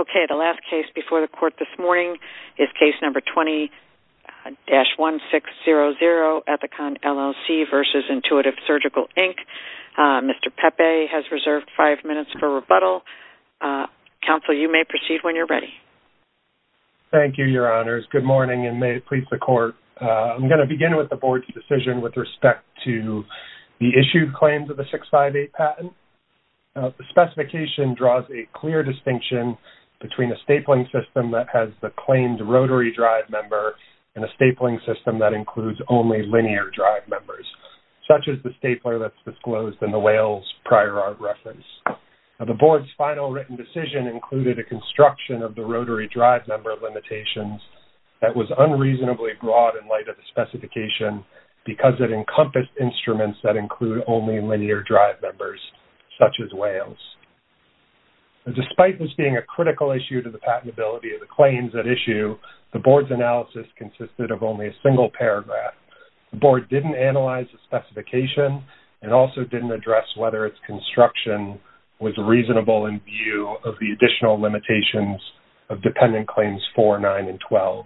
Okay, the last case before the court this morning is case number 20-1600, Ethicon LLC v. Intuitive Surgical, Inc. Mr. Pepe has reserved five minutes for rebuttal. Counsel, you may proceed when you're ready. Thank you, Your Honors. Good morning and may it please the court. I'm going to begin with the board's decision with respect to the issued claims of the 658 patent. The specification draws a clear distinction between a stapling system that has the claimed rotary drive member and a stapling system that includes only linear drive members, such as the stapler that's disclosed in the Whales prior art reference. The board's final written decision included a construction of the rotary drive member limitations that was unreasonably broad in light of the specification because it encompassed instruments that include only linear drive members, such as Whales. Despite this being a critical issue to the patentability of the claims at issue, the board's analysis consisted of only a single paragraph. The board didn't analyze the specification and also didn't address whether its construction was reasonable in view of the additional limitations of dependent claims 4, 9, and 12.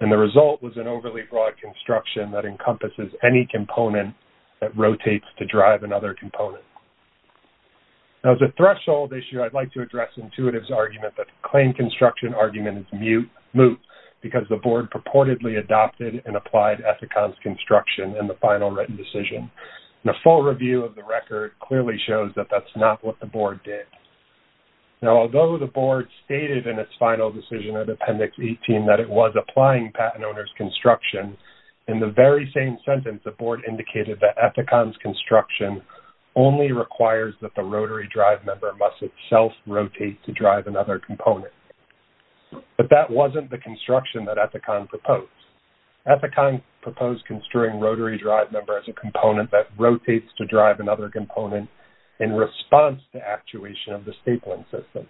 And the result was an overly broad construction that encompasses any component that rotates to drive another component. Now, as a threshold issue, I'd like to address Intuitive's argument that the claim construction argument is moot because the board purportedly adopted and applied Ethicon's construction in the final written decision. The full review of the record clearly shows that that's not what the board did. Now, although the board stated in its final decision of Appendix 18 that it was applying patent owner's construction, in the very same sentence, the board indicated that Ethicon's requires that the rotary drive member must itself rotate to drive another component. But that wasn't the construction that Ethicon proposed. Ethicon proposed construing rotary drive member as a component that rotates to drive another component in response to actuation of the stapling system.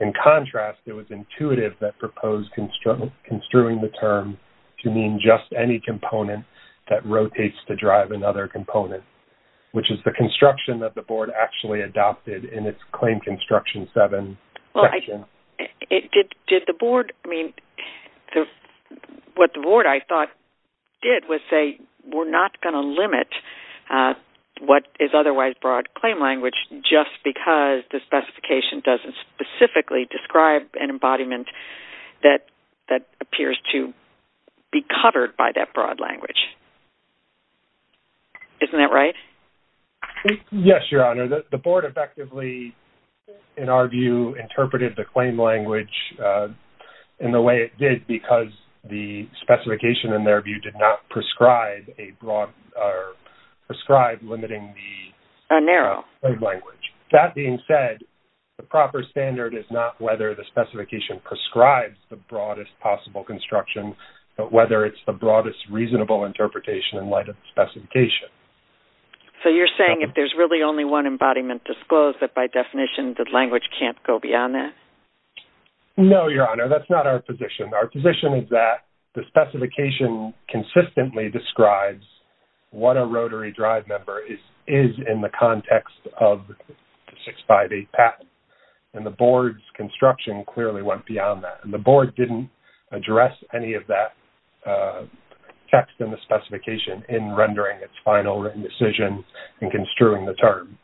In contrast, it was Intuitive that proposed construing the term to mean just any component that rotates to drive another component, which is the construction that the board actually adopted in its claim construction 7 section. What the board, I thought, did was say, we're not going to limit what is otherwise broad claim language just because the specification doesn't specifically describe an embodiment that appears to be covered by that broad language. Isn't that right? Yes, Your Honor. The board effectively, in our view, interpreted the claim language in the way it did because the specification, in their view, did not prescribe limiting the broad language. That being said, the proper standard is not whether the specification prescribes the broadest possible construction, but whether it's the broadest reasonable interpretation in light of the specification. So, you're saying if there's really only one embodiment disclosed that, by definition, the language can't go beyond that? No, Your Honor. That's not our position. Our position is that the specification consistently describes what a rotary drive member is in the and the board's construction clearly went beyond that. The board didn't address any of that text in the specification in rendering its final written decision and construing the term.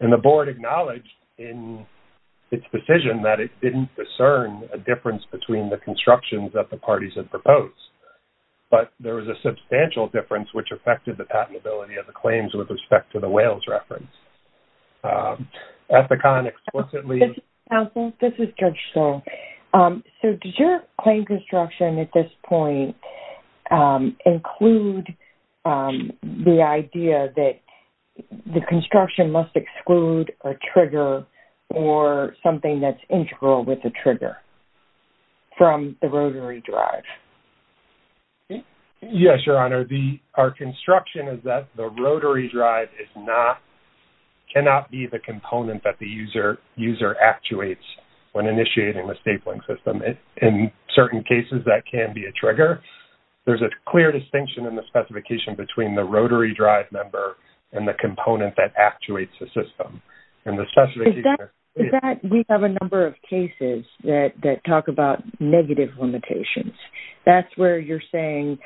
The board acknowledged in its decision that it didn't discern a difference between the constructions that the parties had proposed, but there was a substantial difference which affected the patentability of the claims with respect to the whales reference. At the con, explicitly... Counsel, this is Judge Stoll. So, does your claim construction at this point include the idea that the construction must exclude a trigger or something that's integral with the trigger from the rotary drive? Yes, Your Honor. Our construction is that the rotary drive cannot be the component that the user actuates when initiating the stapling system. In certain cases, that can be a trigger. There's a clear distinction in the specification between the rotary drive member and the component that actuates the system. And the specification... We have a number of cases that talk about negative limitations. That's where you're saying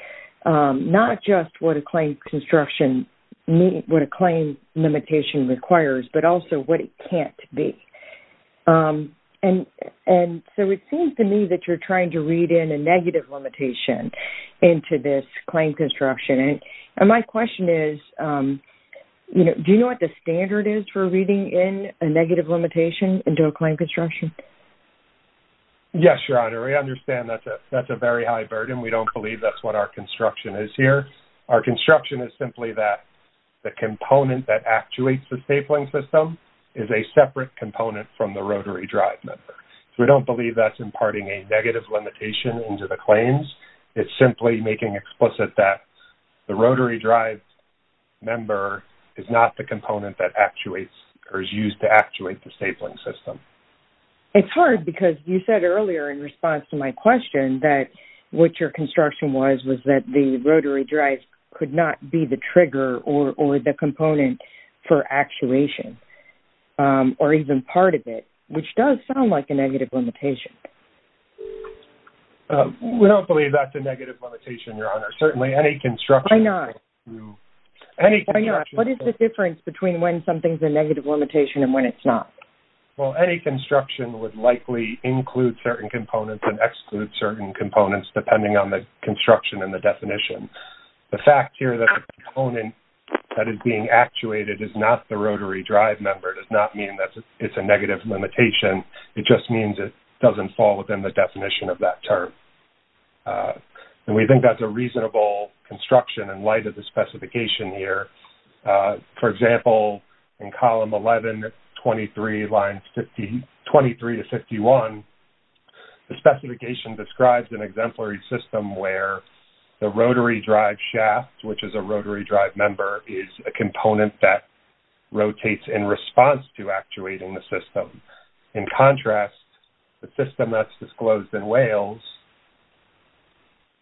not just what a claim limitation requires, but also what it can't be. And so, it seems to me that you're trying to read in a negative limitation into this claim construction. And my question is, do you know what the standard is for reading in a negative limitation into a claim construction? Yes, Your Honor. We understand that's a very high burden. We don't believe that's what our construction is here. Our construction is simply that the component that actuates the stapling system is a separate component from the rotary drive member. So, we don't believe that's imparting a negative limitation into the claims. It's simply making explicit that the rotary drive member is not the component that is used to actuate the stapling system. It's hard because you said earlier in response to my question that what your construction was was that the rotary drive could not be the trigger or the component for actuation or even part of it, which does sound like a negative limitation. We don't believe that's a negative limitation, Your Honor. Certainly, any construction... Why not? Any construction... What is the difference between when something's a negative limitation and when it's not? Well, any construction would likely include certain components and exclude certain components depending on the construction and the definition. The fact here that the component that is being actuated is not the rotary drive member does not mean that it's a negative limitation. It just means it doesn't fall within the definition of that term. And we think that's a reasonable construction in light of the specification here. For example, in column 11, 23 to 51, the specification describes an exemplary system where the rotary drive shaft, which is a rotary drive member, is a component that rotates in response to actuating the system. In contrast, the system that's disclosed in Wales,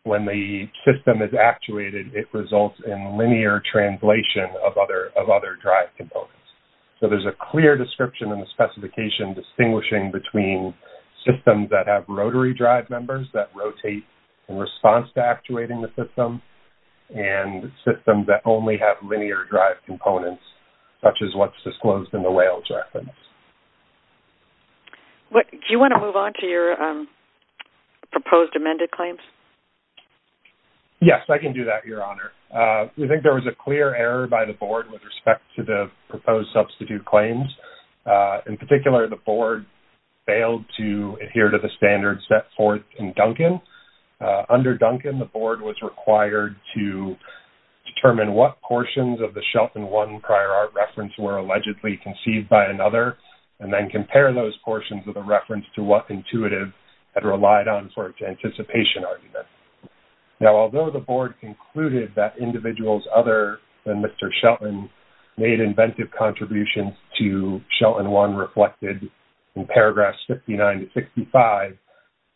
when the system is actuated, it results in linear translation of other drive components. So, there's a clear description in the specification distinguishing between systems that have rotary drive members that rotate in response to actuating the system and systems that only have linear drive components, such as what's disclosed in Wales. Do you want to move on to your proposed amended claims? Yes, I can do that, Your Honor. We think there was a clear error by the Board with respect to the proposed substitute claims. In particular, the Board failed to adhere to the standards set forth in Duncan. Under Duncan, the Board was required to determine what portions of the claim were perceived by another and then compare those portions with a reference to what Intuitive had relied on for its anticipation argument. Now, although the Board concluded that individuals other than Mr. Shelton made inventive contributions to Shelton 1 reflected in paragraphs 59 to 65,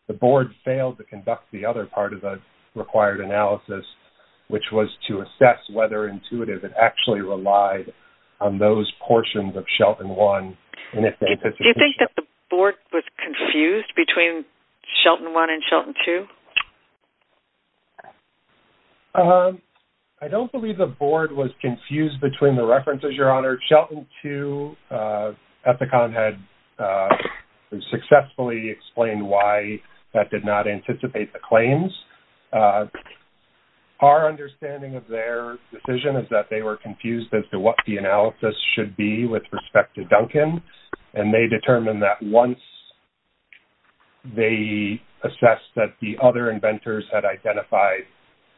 the Board failed to conduct the other part of the required analysis, which was to assess whether it actually relied on those portions of Shelton 1. Do you think that the Board was confused between Shelton 1 and Shelton 2? I don't believe the Board was confused between the references, Your Honor. Shelton 2, Ethicon had successfully explained why that did not anticipate the claims. Our understanding of their decision is that they were confused as to what the analysis should be with respect to Duncan, and they determined that once they assessed that the other inventors had identified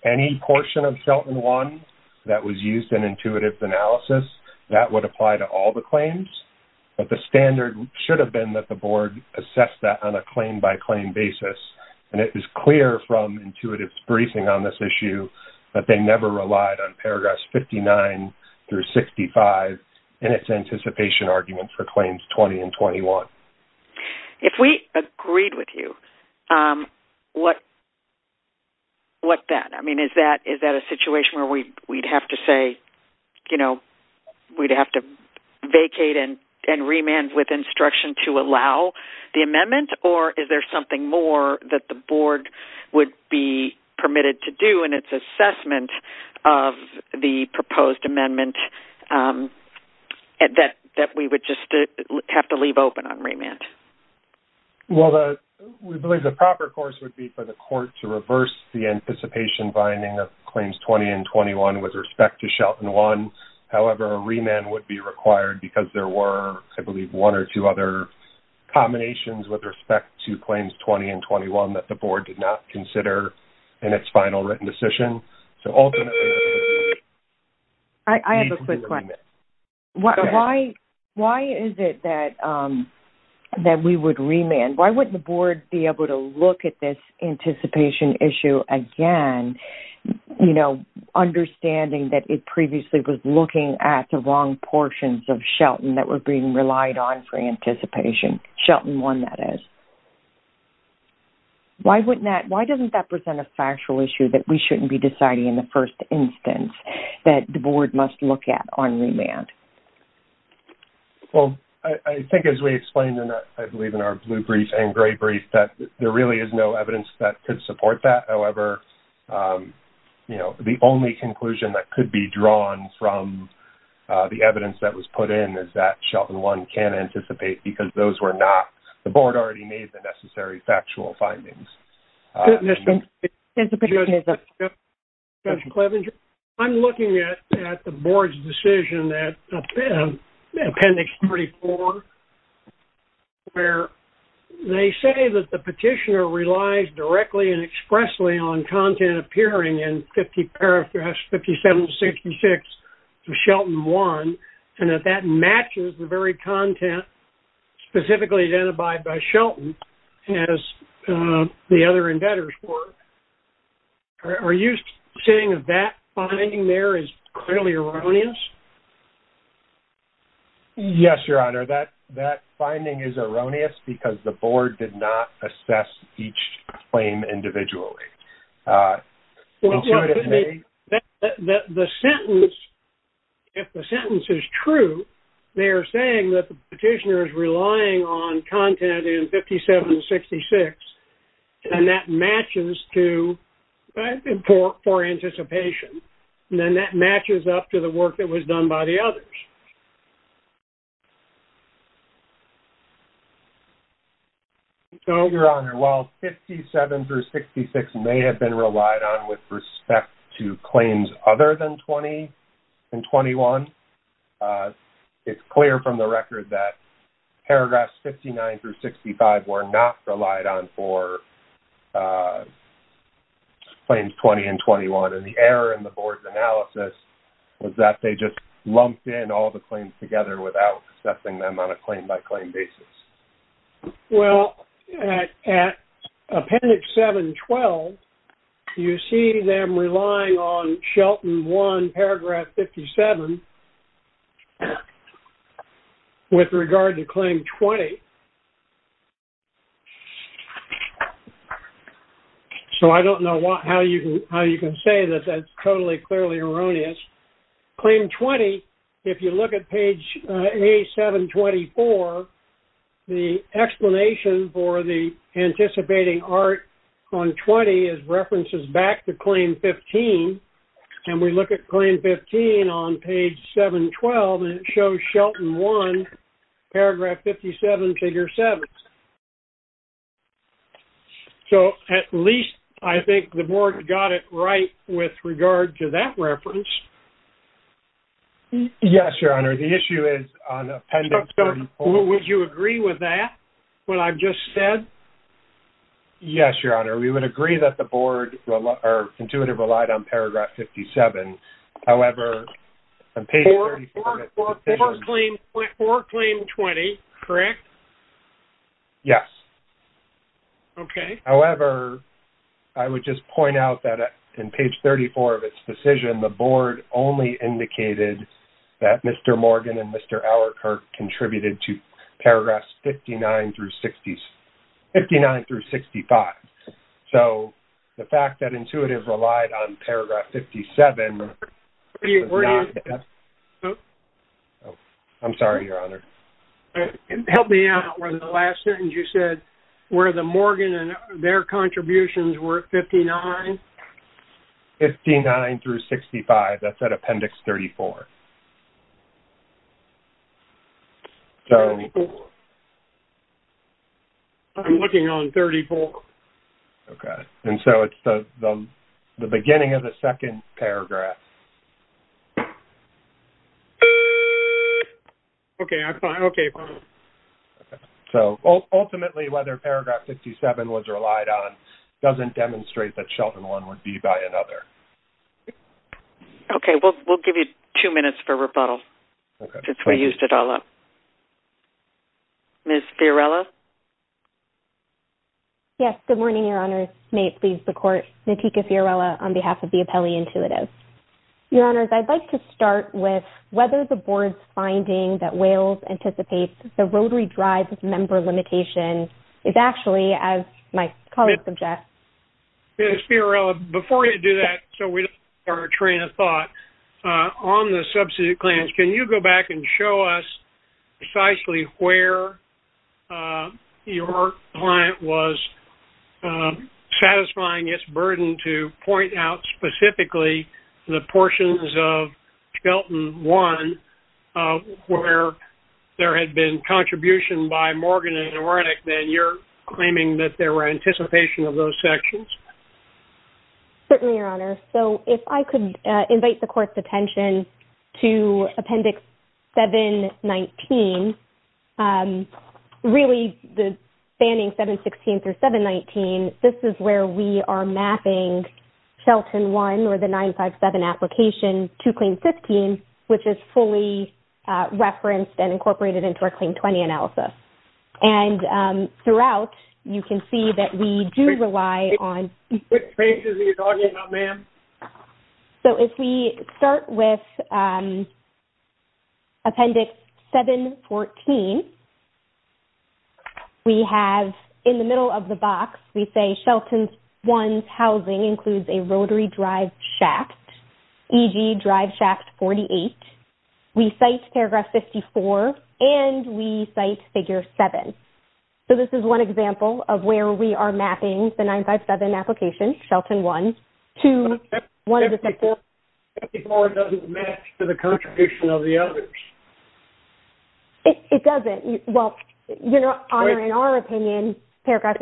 any portion of Shelton 1 that was used in Intuitive's analysis, that would apply to all the claims. But the standard should have been that the Board assessed that on a claim-by-claim basis, and it was clear from Intuitive's briefing on this issue that they never relied on paragraphs 59 through 65 in its anticipation argument for claims 20 and 21. If we agreed with you, what then? I mean, is that a situation where we'd have to say, or is there something more that the Board would be permitted to do in its assessment of the proposed amendment that we would just have to leave open on remand? Well, we believe the proper course would be for the Court to reverse the anticipation binding of claims 20 and 21 with respect to Shelton 1. However, a remand would be required because there were, I believe, one or two other combinations with respect to claims 20 and 21 that the Board did not consider in its final written decision. So, ultimately... I have a quick question. Why is it that we would remand? Why wouldn't the Board be able to look at this anticipation issue again, you know, understanding that it previously was looking at the wrong portions of Shelton that were being relied on for anticipation, Shelton 1, that is? Why wouldn't that... Why doesn't that present a factual issue that we shouldn't be deciding in the first instance that the Board must look at on remand? Well, I think as we explained, and I believe in our blue brief and gray brief, that there really is no evidence that could support that. However, you know, the only conclusion that could be drawn from the evidence that was put in is that Shelton 1 can anticipate because those were not... The Board already made the necessary factual findings. I'm looking at the Board's decision that... Appendix 34, where they say that the petitioner relies directly and expressly on content appearing in 57-66 of Shelton 1, and that that matches the very content specifically identified by Shelton as the other embedders were. Are you saying that that finding there is clearly erroneous? Yes, Your Honor, that finding is erroneous because the Board did not assess each claim individually. Well, the sentence... If the sentence is true, they are saying that the petitioner is relying on content in 57-66, and that matches to... For anticipation, and then that matches up to the evidence that was done by the others. So, Your Honor, while 57-66 may have been relied on with respect to claims other than 20 and 21, it's clear from the record that paragraphs 59-65 were not relied on for the claims 20 and 21. And the error in the Board's analysis was that they just lumped in all the claims together without assessing them on a claim-by-claim basis. Well, at Appendix 7-12, you see them relying on Shelton 1, paragraph 57 and 15 with regard to claim 20. So, I don't know how you can say that that's totally, clearly erroneous. Claim 20, if you look at page A7-24, the explanation for the anticipating ART on 20 is references back to claim 15. And we look at claim 15 on page 7-12, and it shows Shelton 1, paragraph 57, figure 7. So, at least I think the Board got it right with regard to that reference. Yes, Your Honor. The issue is on Appendix 7-12. Would you agree with that, what I've just said? Yes, Your Honor. We would agree that the Board, or Intuitive, relied on paragraph 57. However, on page 34 of its decision... For claim 20, correct? Yes. Okay. However, I would just point out that in page 34 of its decision, the Board only indicated that Mr. Morgan and Mr. Auerkirk contributed to paragraphs 59-65. So, the fact that Intuitive relied on paragraph 57... I'm sorry, Your Honor. Help me out on the last sentence. You said where the Morgan and their contributions were at 59? 59-65. That's at Appendix 34. I'm looking on 34. Okay. And so, it's the beginning of the second paragraph. Okay. So, ultimately, whether paragraph 57 was relied on doesn't demonstrate that Shelton one would be by another. Okay. We'll give you two minutes for rebuttal, since we used it all up. Ms. Fiorella? Yes. Good morning, Your Honor. May it please the Court, Natika Fiorella on behalf of the Appellee Intuitive. Your Honors, I'd like to start with whether the Board's finding that Wales anticipates the rotary drive member limitation is actually, as my colleague suggests... Ms. Fiorella, before you do that, so we don't start a train of thought, on the substitute claims, can you go back and show us precisely where your client was the portions of Shelton one, where there had been contribution by Morgan and Wernick, that you're claiming that there were anticipation of those sections? Certainly, Your Honor. So, if I could invite the Court's attention to Appendix 719. Really, the standing 716 through 719, this is where we are mapping Shelton one or the 957 application to Claim 15, which is fully referenced and incorporated into our Claim 20 analysis. And throughout, you can see that we do rely on... So, if we start with Appendix 714, we have in the middle of the box, we say, Shelton one's housing includes a rotary drive shaft, e.g., drive shaft 48. We cite paragraph 54 and we cite figure seven. So, this is one example of where we are mapping the 957 application, Shelton one, to one of the... But 54 doesn't match to the contribution of the others. It doesn't. Well, Your Honor, in our opinion, paragraph...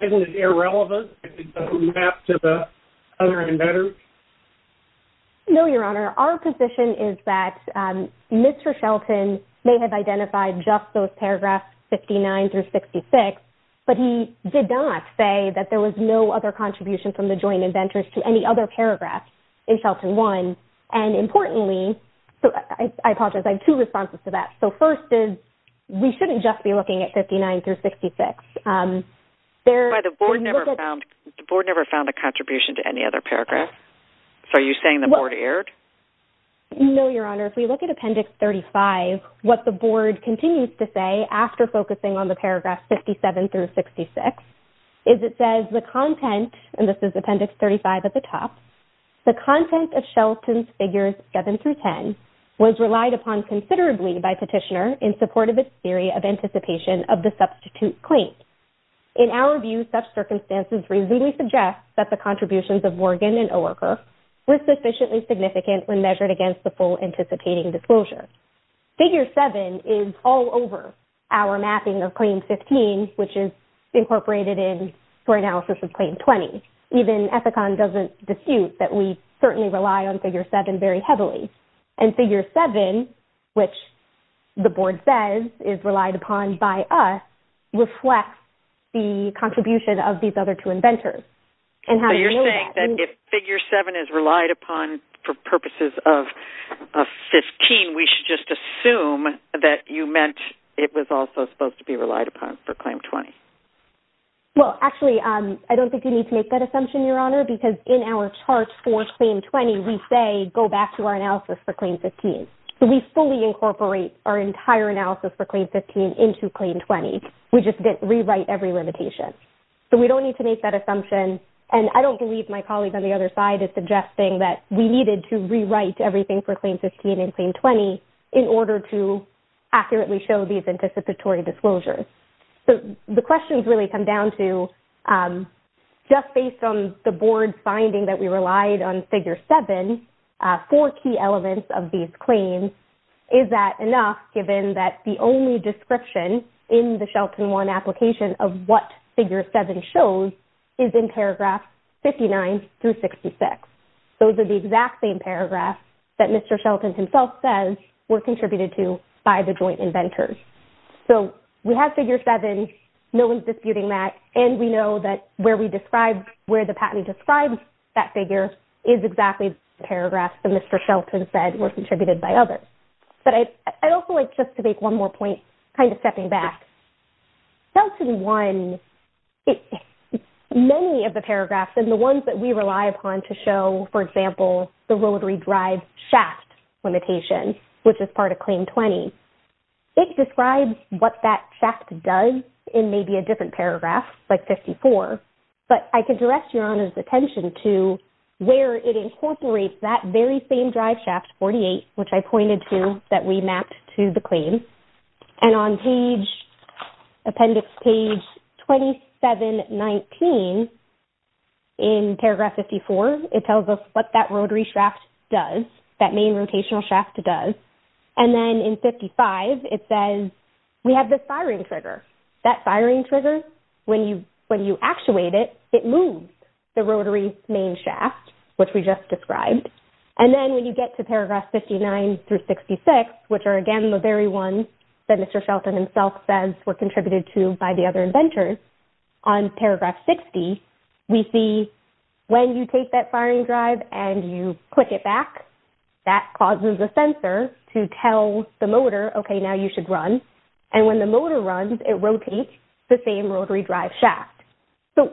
Isn't it irrelevant if it doesn't match to the other embedders? No, Your Honor. Our position is that Mr. Shelton may have identified just those paragraphs 59 through 66, but he did not say that there was no other contribution from the joint inventors to any other paragraph in Shelton one. And importantly... So, I apologize. I have two responses to that. So, first is, we shouldn't just be looking at 59 through 66. There... But the board never found a contribution to any other paragraph. So, are you saying the board erred? No, Your Honor. If we look at Appendix 35, what the board continues to say after focusing on the paragraph 57 through 66 is it says, the content, and this is Appendix 35 at the top, the content of Shelton's figures seven through 10 was relied upon considerably by petitioner in support of its theory of anticipation of the substitute claim. In our view, such circumstances reasonably suggest that the contributions of Morgan and Oerker were sufficiently significant when measured against the full anticipating disclosure. Figure seven is all over our mapping of Claim 15, which is incorporated in for analysis of Claim 20. Even Ethicon doesn't dispute that we certainly rely on Figure 7 very heavily. And Figure 7, which the board says is relied upon by us, reflects the contribution of these other two inventors. You're saying that if Figure 7 is relied upon for purposes of 15, we should just assume that you meant it was also supposed to be relied upon for Claim 20? Well, actually, I don't think you need to make that assumption, Your Honor, because in our charts for Claim 20, we say, go back to our analysis for Claim 15. So, we fully incorporate our entire analysis for Claim 15 into Claim 20. We just didn't rewrite every limitation. So, we don't need to make that assumption. And I don't believe my colleague on the other side is suggesting that we needed to rewrite everything for Claim 15 and Claim 20 in order to accurately show these anticipatory disclosures. So, the questions really come down to just based on the board's finding that we relied on Figure 7, four key elements of these claims, is that enough given that the only description in the Shelton One application of what Figure 7 shows is in paragraph 59 through 66. Those are the exact same paragraphs that Mr. Shelton himself says were contributed to by the joint inventors. So, we have Figure 7. No one's disputing that. And we know that where we describe, where the patentee describes that figure is exactly the paragraphs that Mr. Shelton said were contributed by others. But I'd also like just to make one more point, kind of stepping back. Shelton One, many of the paragraphs and the ones that we rely upon to show, for example, the rotary drive shaft limitation, which is part of Claim 20, it describes what that shaft does in maybe a different paragraph, like 54. But I can direct Your Honor's attention to where it incorporates that very same drive shaft, 48, which I pointed to that we mapped to the claim. And on page, appendix page 2719, in paragraph 54, it tells us what that rotary shaft does, that main rotational shaft does. And then in 55, it says we have this firing trigger. That firing trigger, when you actuate it, it moves the rotary main shaft, which we just described. And then when you get to paragraph 59 through 66, which are, again, the very ones that Mr. Shelton himself says were contributed to by the other inventors, on paragraph 60, we see when you take that firing drive and you click it back, that causes a sensor to tell the motor, okay, now you should run. And when the motor runs, it rotates the same rotary drive shaft. So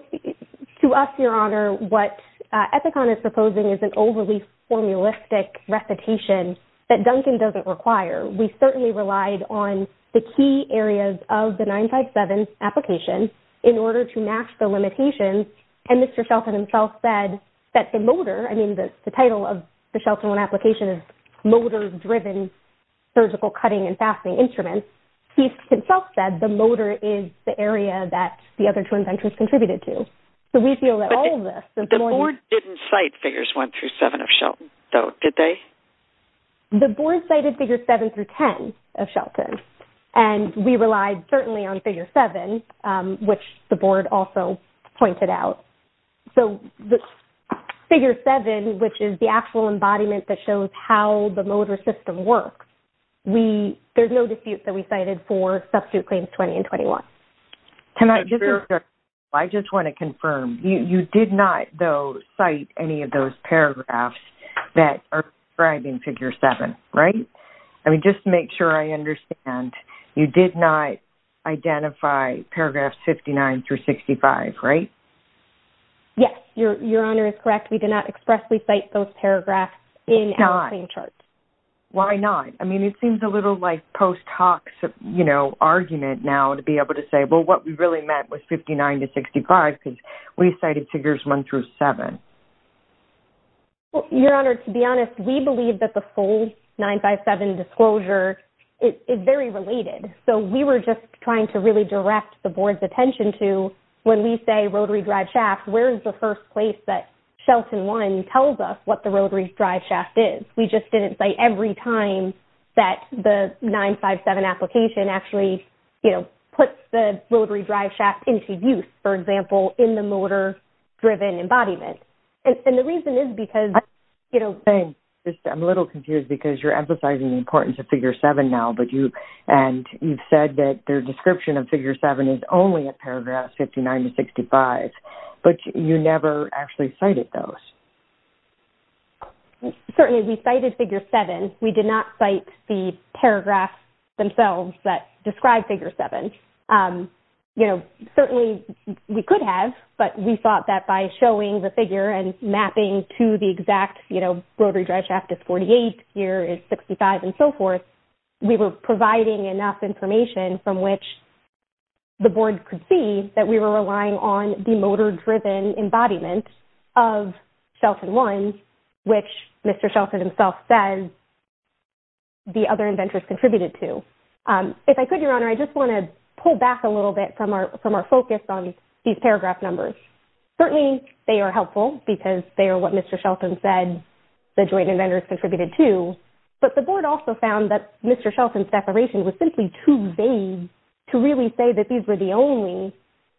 to us, Your Honor, what EPICON is proposing is an overly formalistic recitation that Duncan doesn't require. We certainly relied on the key areas of the 957 application in order to match the limitations. And Mr. Shelton himself said that the motor, I mean, the title of the Shelton One application is Motor-Driven Surgical Cutting and Fastening Instruments. He himself said the motor is the area that the other two inventors contributed to. So we feel that all of this... But the board didn't cite figures one through seven of Shelton, though, did they? The board cited figures seven through ten of Shelton. And we relied certainly on figure seven, which the board also pointed out. So the figure seven, which is the actual embodiment that shows how the motor system works, there's no disputes that we cited for substitute claims 20 and 21. Can I just... That's very correct. Figure seven, right? I mean, just to make sure I understand, you did not identify paragraphs 59 through 65, right? Yes, Your Honor, it's correct. We did not expressly cite those paragraphs in our claim charts. Why not? I mean, it seems a little like post hoc argument now to be able to say, well, what we really meant was 59 to 65 because we cited figures one through seven. Well, Your Honor, to be honest, we believe that the full 957 disclosure is very related. So we were just trying to really direct the board's attention to when we say rotary drive shaft, where is the first place that Shelton 1 tells us what the rotary drive shaft is? We just didn't say every time that the 957 application actually, you know, puts the rotary drive shaft into use, for example, in the motor driven embodiment. And the reason is because, you know... I'm a little confused because you're emphasizing the importance of figure seven now, but you and you've said that their description of figure seven is only a paragraph 59 to 65, but you never actually cited those. Certainly, we cited figure seven. We did not cite the paragraphs themselves that describe figure seven. You know, certainly we could have, but we thought that by showing the figure and mapping to the exact, you know, rotary drive shaft is 48, here is 65 and so forth, we were providing enough information from which the board could see that we were relying on the motor driven embodiment of Shelton 1, which Mr. Shelton himself says the other inventors contributed to. If I could, Your Honor, I just want to pull back a little bit from our focus on these paragraph numbers. Certainly, they are helpful because they are what Mr. Shelton said the joint inventors contributed to, but the board also found that Mr. Shelton's declaration was simply too vague to really say that these were the only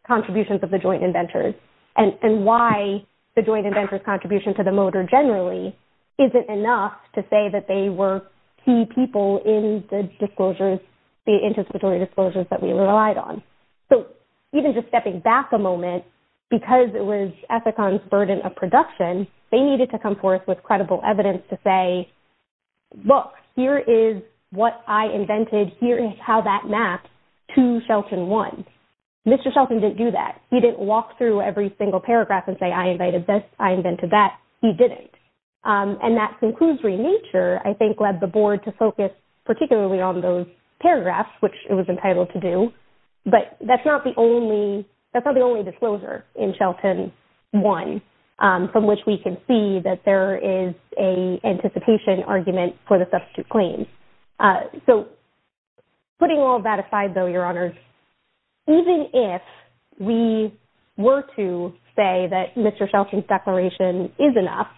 contributions of the joint inventors, and why the joint inventors contribution to the motor generally isn't enough to say that they were key people in the disclosures, the anticipatory disclosures that we relied on. So, even just stepping back a moment, because it was Ethicon's burden of production, they needed to come forth with credible evidence to say, look, here is what I invented. Here is how that maps to Shelton 1. Mr. Shelton didn't do that. He didn't walk through every single paragraph and say, I invented this, I invented that. He didn't. And that conclusory nature, I think, led the board to focus particularly on those paragraphs, which it was entitled to do. But that's not the only disclosure in Shelton 1, from which we can see that there is an anticipation argument for the substitute claims. So, putting all that aside, though, Your Honors, even if we were to say that Mr. Shelton's declaration is enough,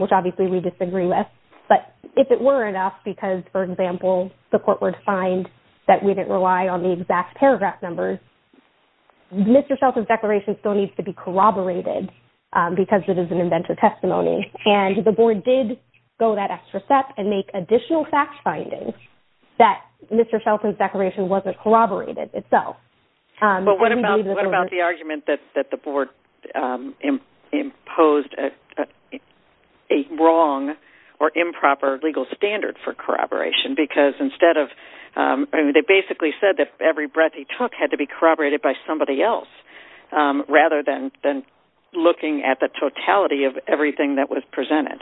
which obviously we disagree with, but if it were enough, because, for example, the court would find that we didn't rely on the exact paragraph numbers, Mr. Shelton's declaration still needs to be corroborated because it is an inventor testimony. And the board did go that extra step and make additional fact findings that Mr. Shelton's declaration wasn't corroborated itself. But what about the argument that the board imposed a wrong or improper legal standard for corroboration? Because they basically said that every breath he took had to be corroborated by somebody else, rather than looking at the totality of everything that was presented.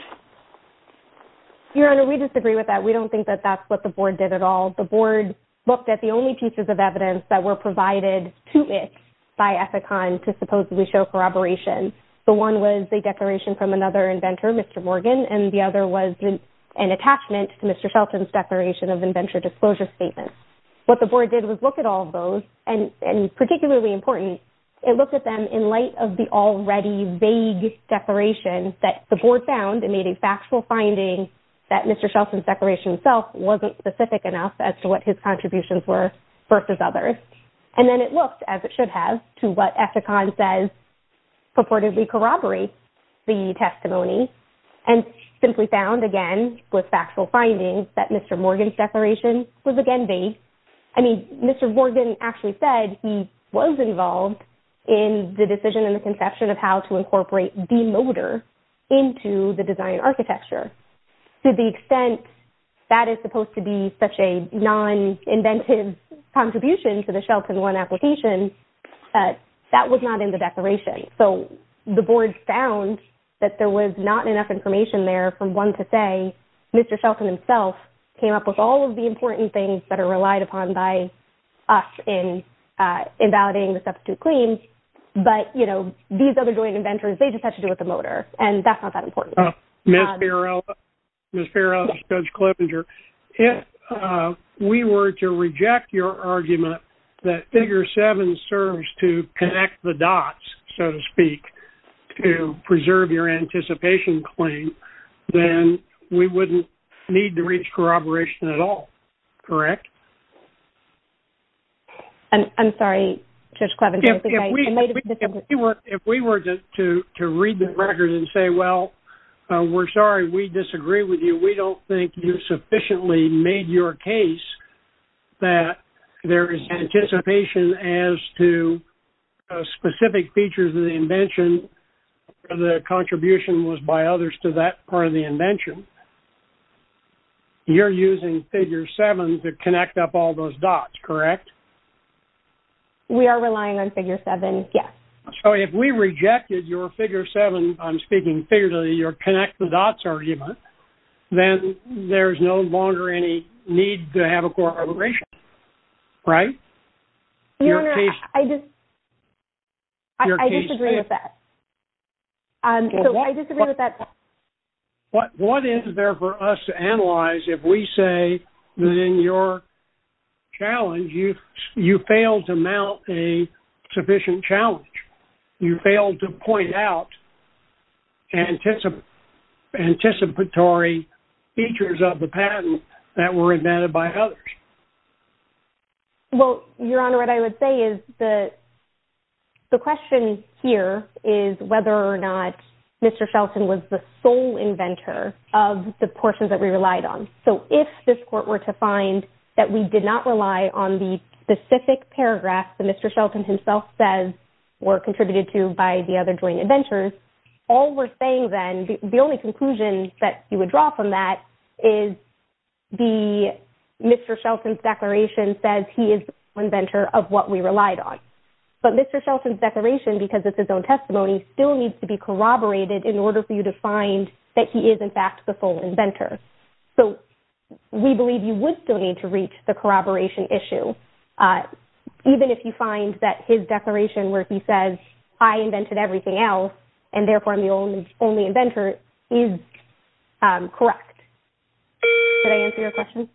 Your Honor, we disagree with that. We don't think that that's what the board did at all. The board looked at the only pieces of evidence that were provided to it by Ethicon to supposedly show corroboration. The one was a declaration from another inventor, Mr. Morgan, and the other was an attachment to Mr. Shelton's declaration of inventor disclosure statements. What the board did was look at all of those, and particularly important, it looked at them in light of the already vague declaration that the board found and made a factual finding that Mr. Shelton's declaration itself wasn't specific enough as to what his contributions were versus others. And then it looked, as it should have, to what Ethicon says purportedly corroborates the testimony and simply found, again, with factual findings, that Mr. Morgan's declaration was again vague. I mean, Mr. Morgan actually said he was involved in the decision and the conception of how to incorporate demotor into the design architecture. To the extent that is supposed to be such a non-inventive contribution to the Shelton One application, that was not in the declaration. So the board found that there was not enough information there from one to say Mr. Shelton himself came up with all of the important things that are relied upon by us in validating the substitute claims. But, you know, these other joint inventors, they just had to do with the motor, and that's not that important. Ms. Pero, Judge Clevenger, if we were to reject your argument that figure seven serves to connect the dots, so to speak, to preserve your anticipation claim, then we wouldn't need to reach corroboration at all, correct? I'm sorry, Judge Clevenger. If we were to read the record and say, well, we're sorry, we disagree with you, we don't think you sufficiently made your case that there is anticipation as to specific features of the invention, the contribution was by others to that part of the invention, you're using figure seven to connect up all those dots, correct? We are relying on figure seven, yes. So if we rejected your figure seven, I'm speaking figuratively, your connect the dots argument, then there's no longer any need to have a corroboration, right? Your Honor, I disagree with that. I disagree with that. What is there for us to analyze if we say that in your challenge you failed to mount a sufficient challenge, you failed to point out anticipatory features of the patent that were invented by others? Well, Your Honor, what I would say is that the question here is whether or not Mr. Shelton was the sole inventor of the portions that we relied on. So if this Court were to find that we did not rely on the specific paragraph that Mr. Shelton himself says were contributed to by the other joint inventors, all we're saying then, the only conclusion that you would draw from that is Mr. Shelton's declaration says he is the inventor of what we relied on. But Mr. Shelton's declaration, because it's his own testimony, still needs to be corroborated in order for you to find that he is, in fact, the full inventor. So we believe you would still need to reach the corroboration issue, even if you find that his declaration where he says, I invented everything else, and therefore I'm the only inventor, is correct. Did I answer your question?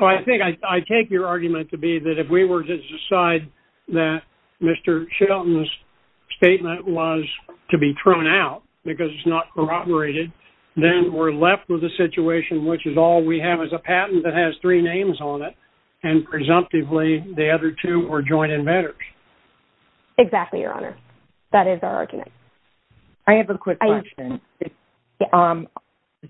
Well, I think I take your argument to be that if we were to decide that Mr. Shelton's statement was to be thrown out because it's not corroborated, then we're left with a situation which is all we have is a patent that has three names on it, and presumptively the other two are joint inventors. Exactly, Your Honor. That is our argument. I have a quick question,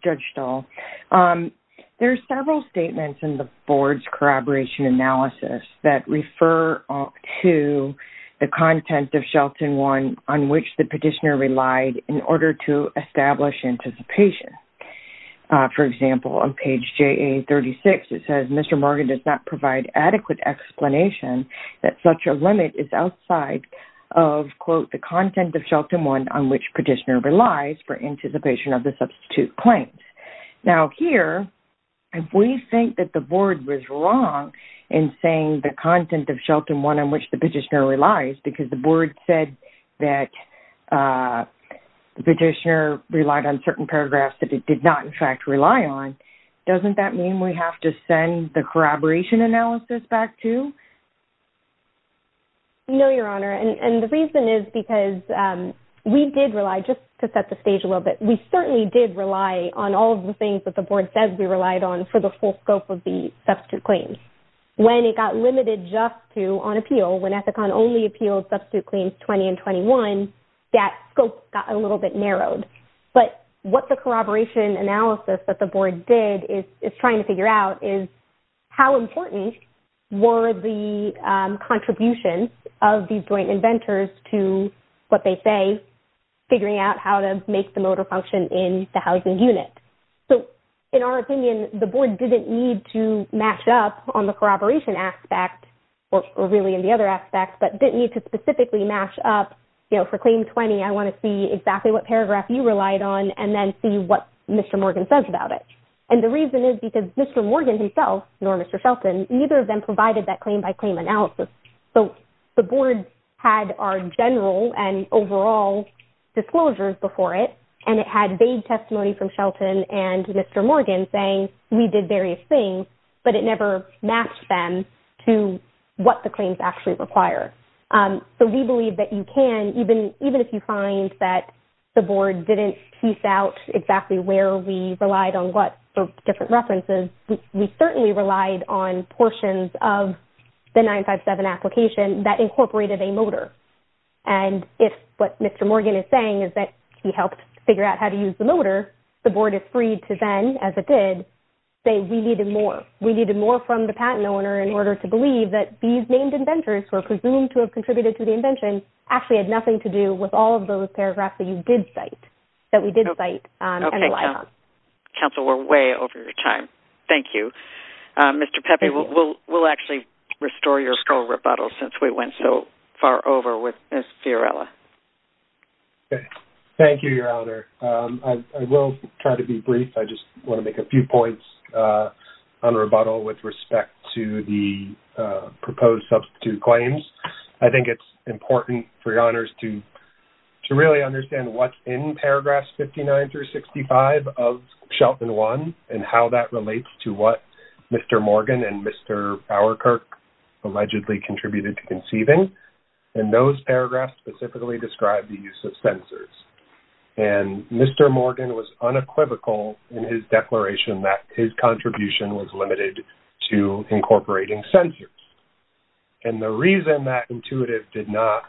Judge Stahl. There are several statements in the Board's corroboration analysis that refer to the content of Shelton 1 on which the petitioner relied in order to establish anticipation. For example, on page JA 36, it says, Mr. Morgan does not provide adequate explanation that such a limit is outside of, quote, the content of Shelton 1 on which petitioner relies for anticipation of the substitute claims. Now here, if we think that the Board was wrong in saying the content of Shelton 1 on which petitioner relies because the Board said that the petitioner relied on certain paragraphs that it did not, in fact, rely on, doesn't that mean we have to send the corroboration analysis back too? No, Your Honor, and the reason is because we did rely, just to set the stage a little bit, we certainly did rely on all of the things that the Board says we relied on for the full scope of the substitute claims. When it got limited just to on appeal, when Ethicon only appealed substitute claims 20 and 21, that scope got a little bit narrowed. But what the corroboration analysis that the Board did is trying to figure out is how important were the contributions of these joint inventors to what they say, figuring out how to make the motor function in the housing unit. So in our opinion, the Board didn't need to mash up on the corroboration aspect or really in the other aspects, but didn't need to specifically mash up, you know, for claim 20, I want to see exactly what paragraph you relied on and then see what Mr. Morgan says about it. And the reason is because Mr. Morgan himself, nor Mr. Shelton, neither of them provided that claim-by-claim analysis. So the Board had our general and overall disclosures before it, and it had vague testimony from Mr. Morgan saying, we did various things, but it never matched them to what the claims actually require. So we believe that you can, even if you find that the Board didn't piece out exactly where we relied on what different references, we certainly relied on portions of the 957 application that incorporated a motor. And if what Mr. Morgan is saying is that he helped figure out how to use the motor, the Board is free to then, as it did, say, we needed more. We needed more from the patent owner in order to believe that these named inventors who are presumed to have contributed to the invention actually had nothing to do with all of those paragraphs that you did cite, that we did cite and relied on. Okay. Counsel, we're way over your time. Thank you. Mr. Pepe, we'll actually restore your scroll rebuttal since we went so far over with Ms. Fiorella. Thank you, Your Honor. I will try to be brief. I just want to make a few points on rebuttal with respect to the proposed substitute claims. I think it's important for your honors to really understand what's in paragraphs 59 through 65 of Shelton 1 and how that relates to what Mr. Morgan and Mr. Bowerkirk allegedly contributed to conceiving. And those paragraphs specifically describe the use of censors. And Mr. Morgan was unequivocal in his declaration that his contribution was limited to incorporating censors. And the reason that intuitive did not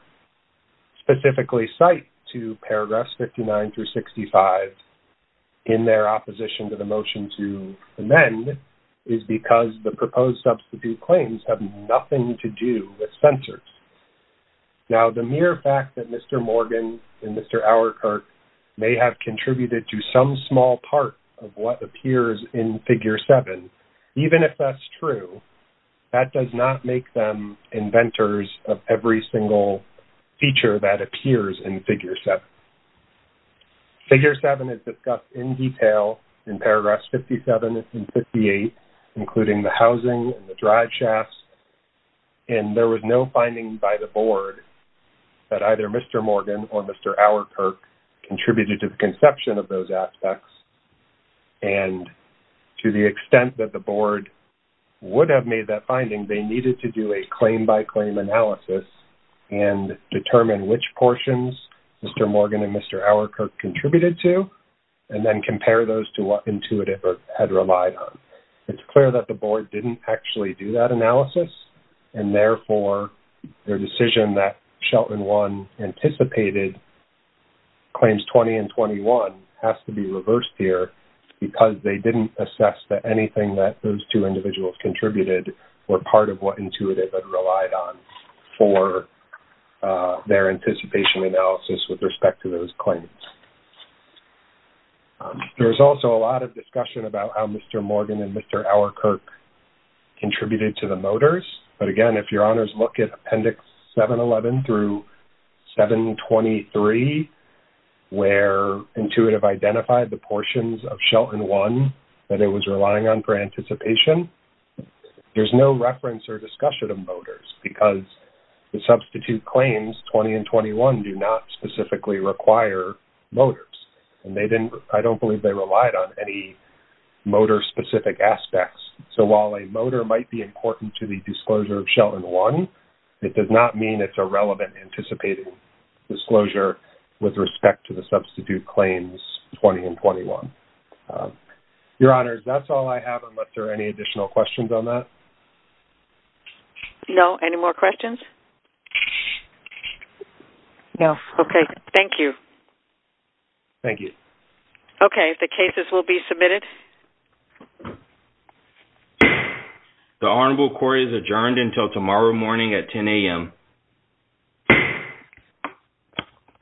specifically cite to paragraphs 59 through 65 in their opposition to the motion to amend is because the proposed substitute claims have nothing to do with censors. Now, the mere fact that Mr. Morgan and Mr. Bowerkirk may have contributed to some small part of what appears in figure 7, even if that's true, that does not make them inventors of every single feature that appears in figure 7. Figure 7 is discussed in detail in paragraphs 57 and 58, including the housing and the drive by the board that either Mr. Morgan or Mr. Bowerkirk contributed to the conception of those aspects. And to the extent that the board would have made that finding, they needed to do a claim by claim analysis and determine which portions Mr. Morgan and Mr. Bowerkirk contributed to and then compare those to what intuitive had relied on. It's clear that the board didn't actually do that analysis and therefore their decision that Shelton 1 anticipated claims 20 and 21 has to be reversed here because they didn't assess that anything that those two individuals contributed were part of what intuitive had relied on for their anticipation analysis with respect to those claims. There's also a lot of discussion about how Mr. Morgan and Mr. Bowerkirk contributed to the motors, but again, if your honors look at Appendix 711 through 723, where intuitive identified the portions of Shelton 1 that it was relying on for anticipation, there's no reference or discussion of motors because the substitute claims 20 and 21 do not specifically require motors. And I don't believe they relied on any motor-specific aspects. So while a motor might be important to the disclosure of Shelton 1, it does not mean it's irrelevant anticipating disclosure with respect to the substitute claims 20 and 21. Your honors, that's all I have unless there are any additional questions on that. No. Any more questions? No. Okay. Thank you. Thank you. Okay, the cases will be submitted. The honorable court is adjourned until tomorrow morning at 10 a.m.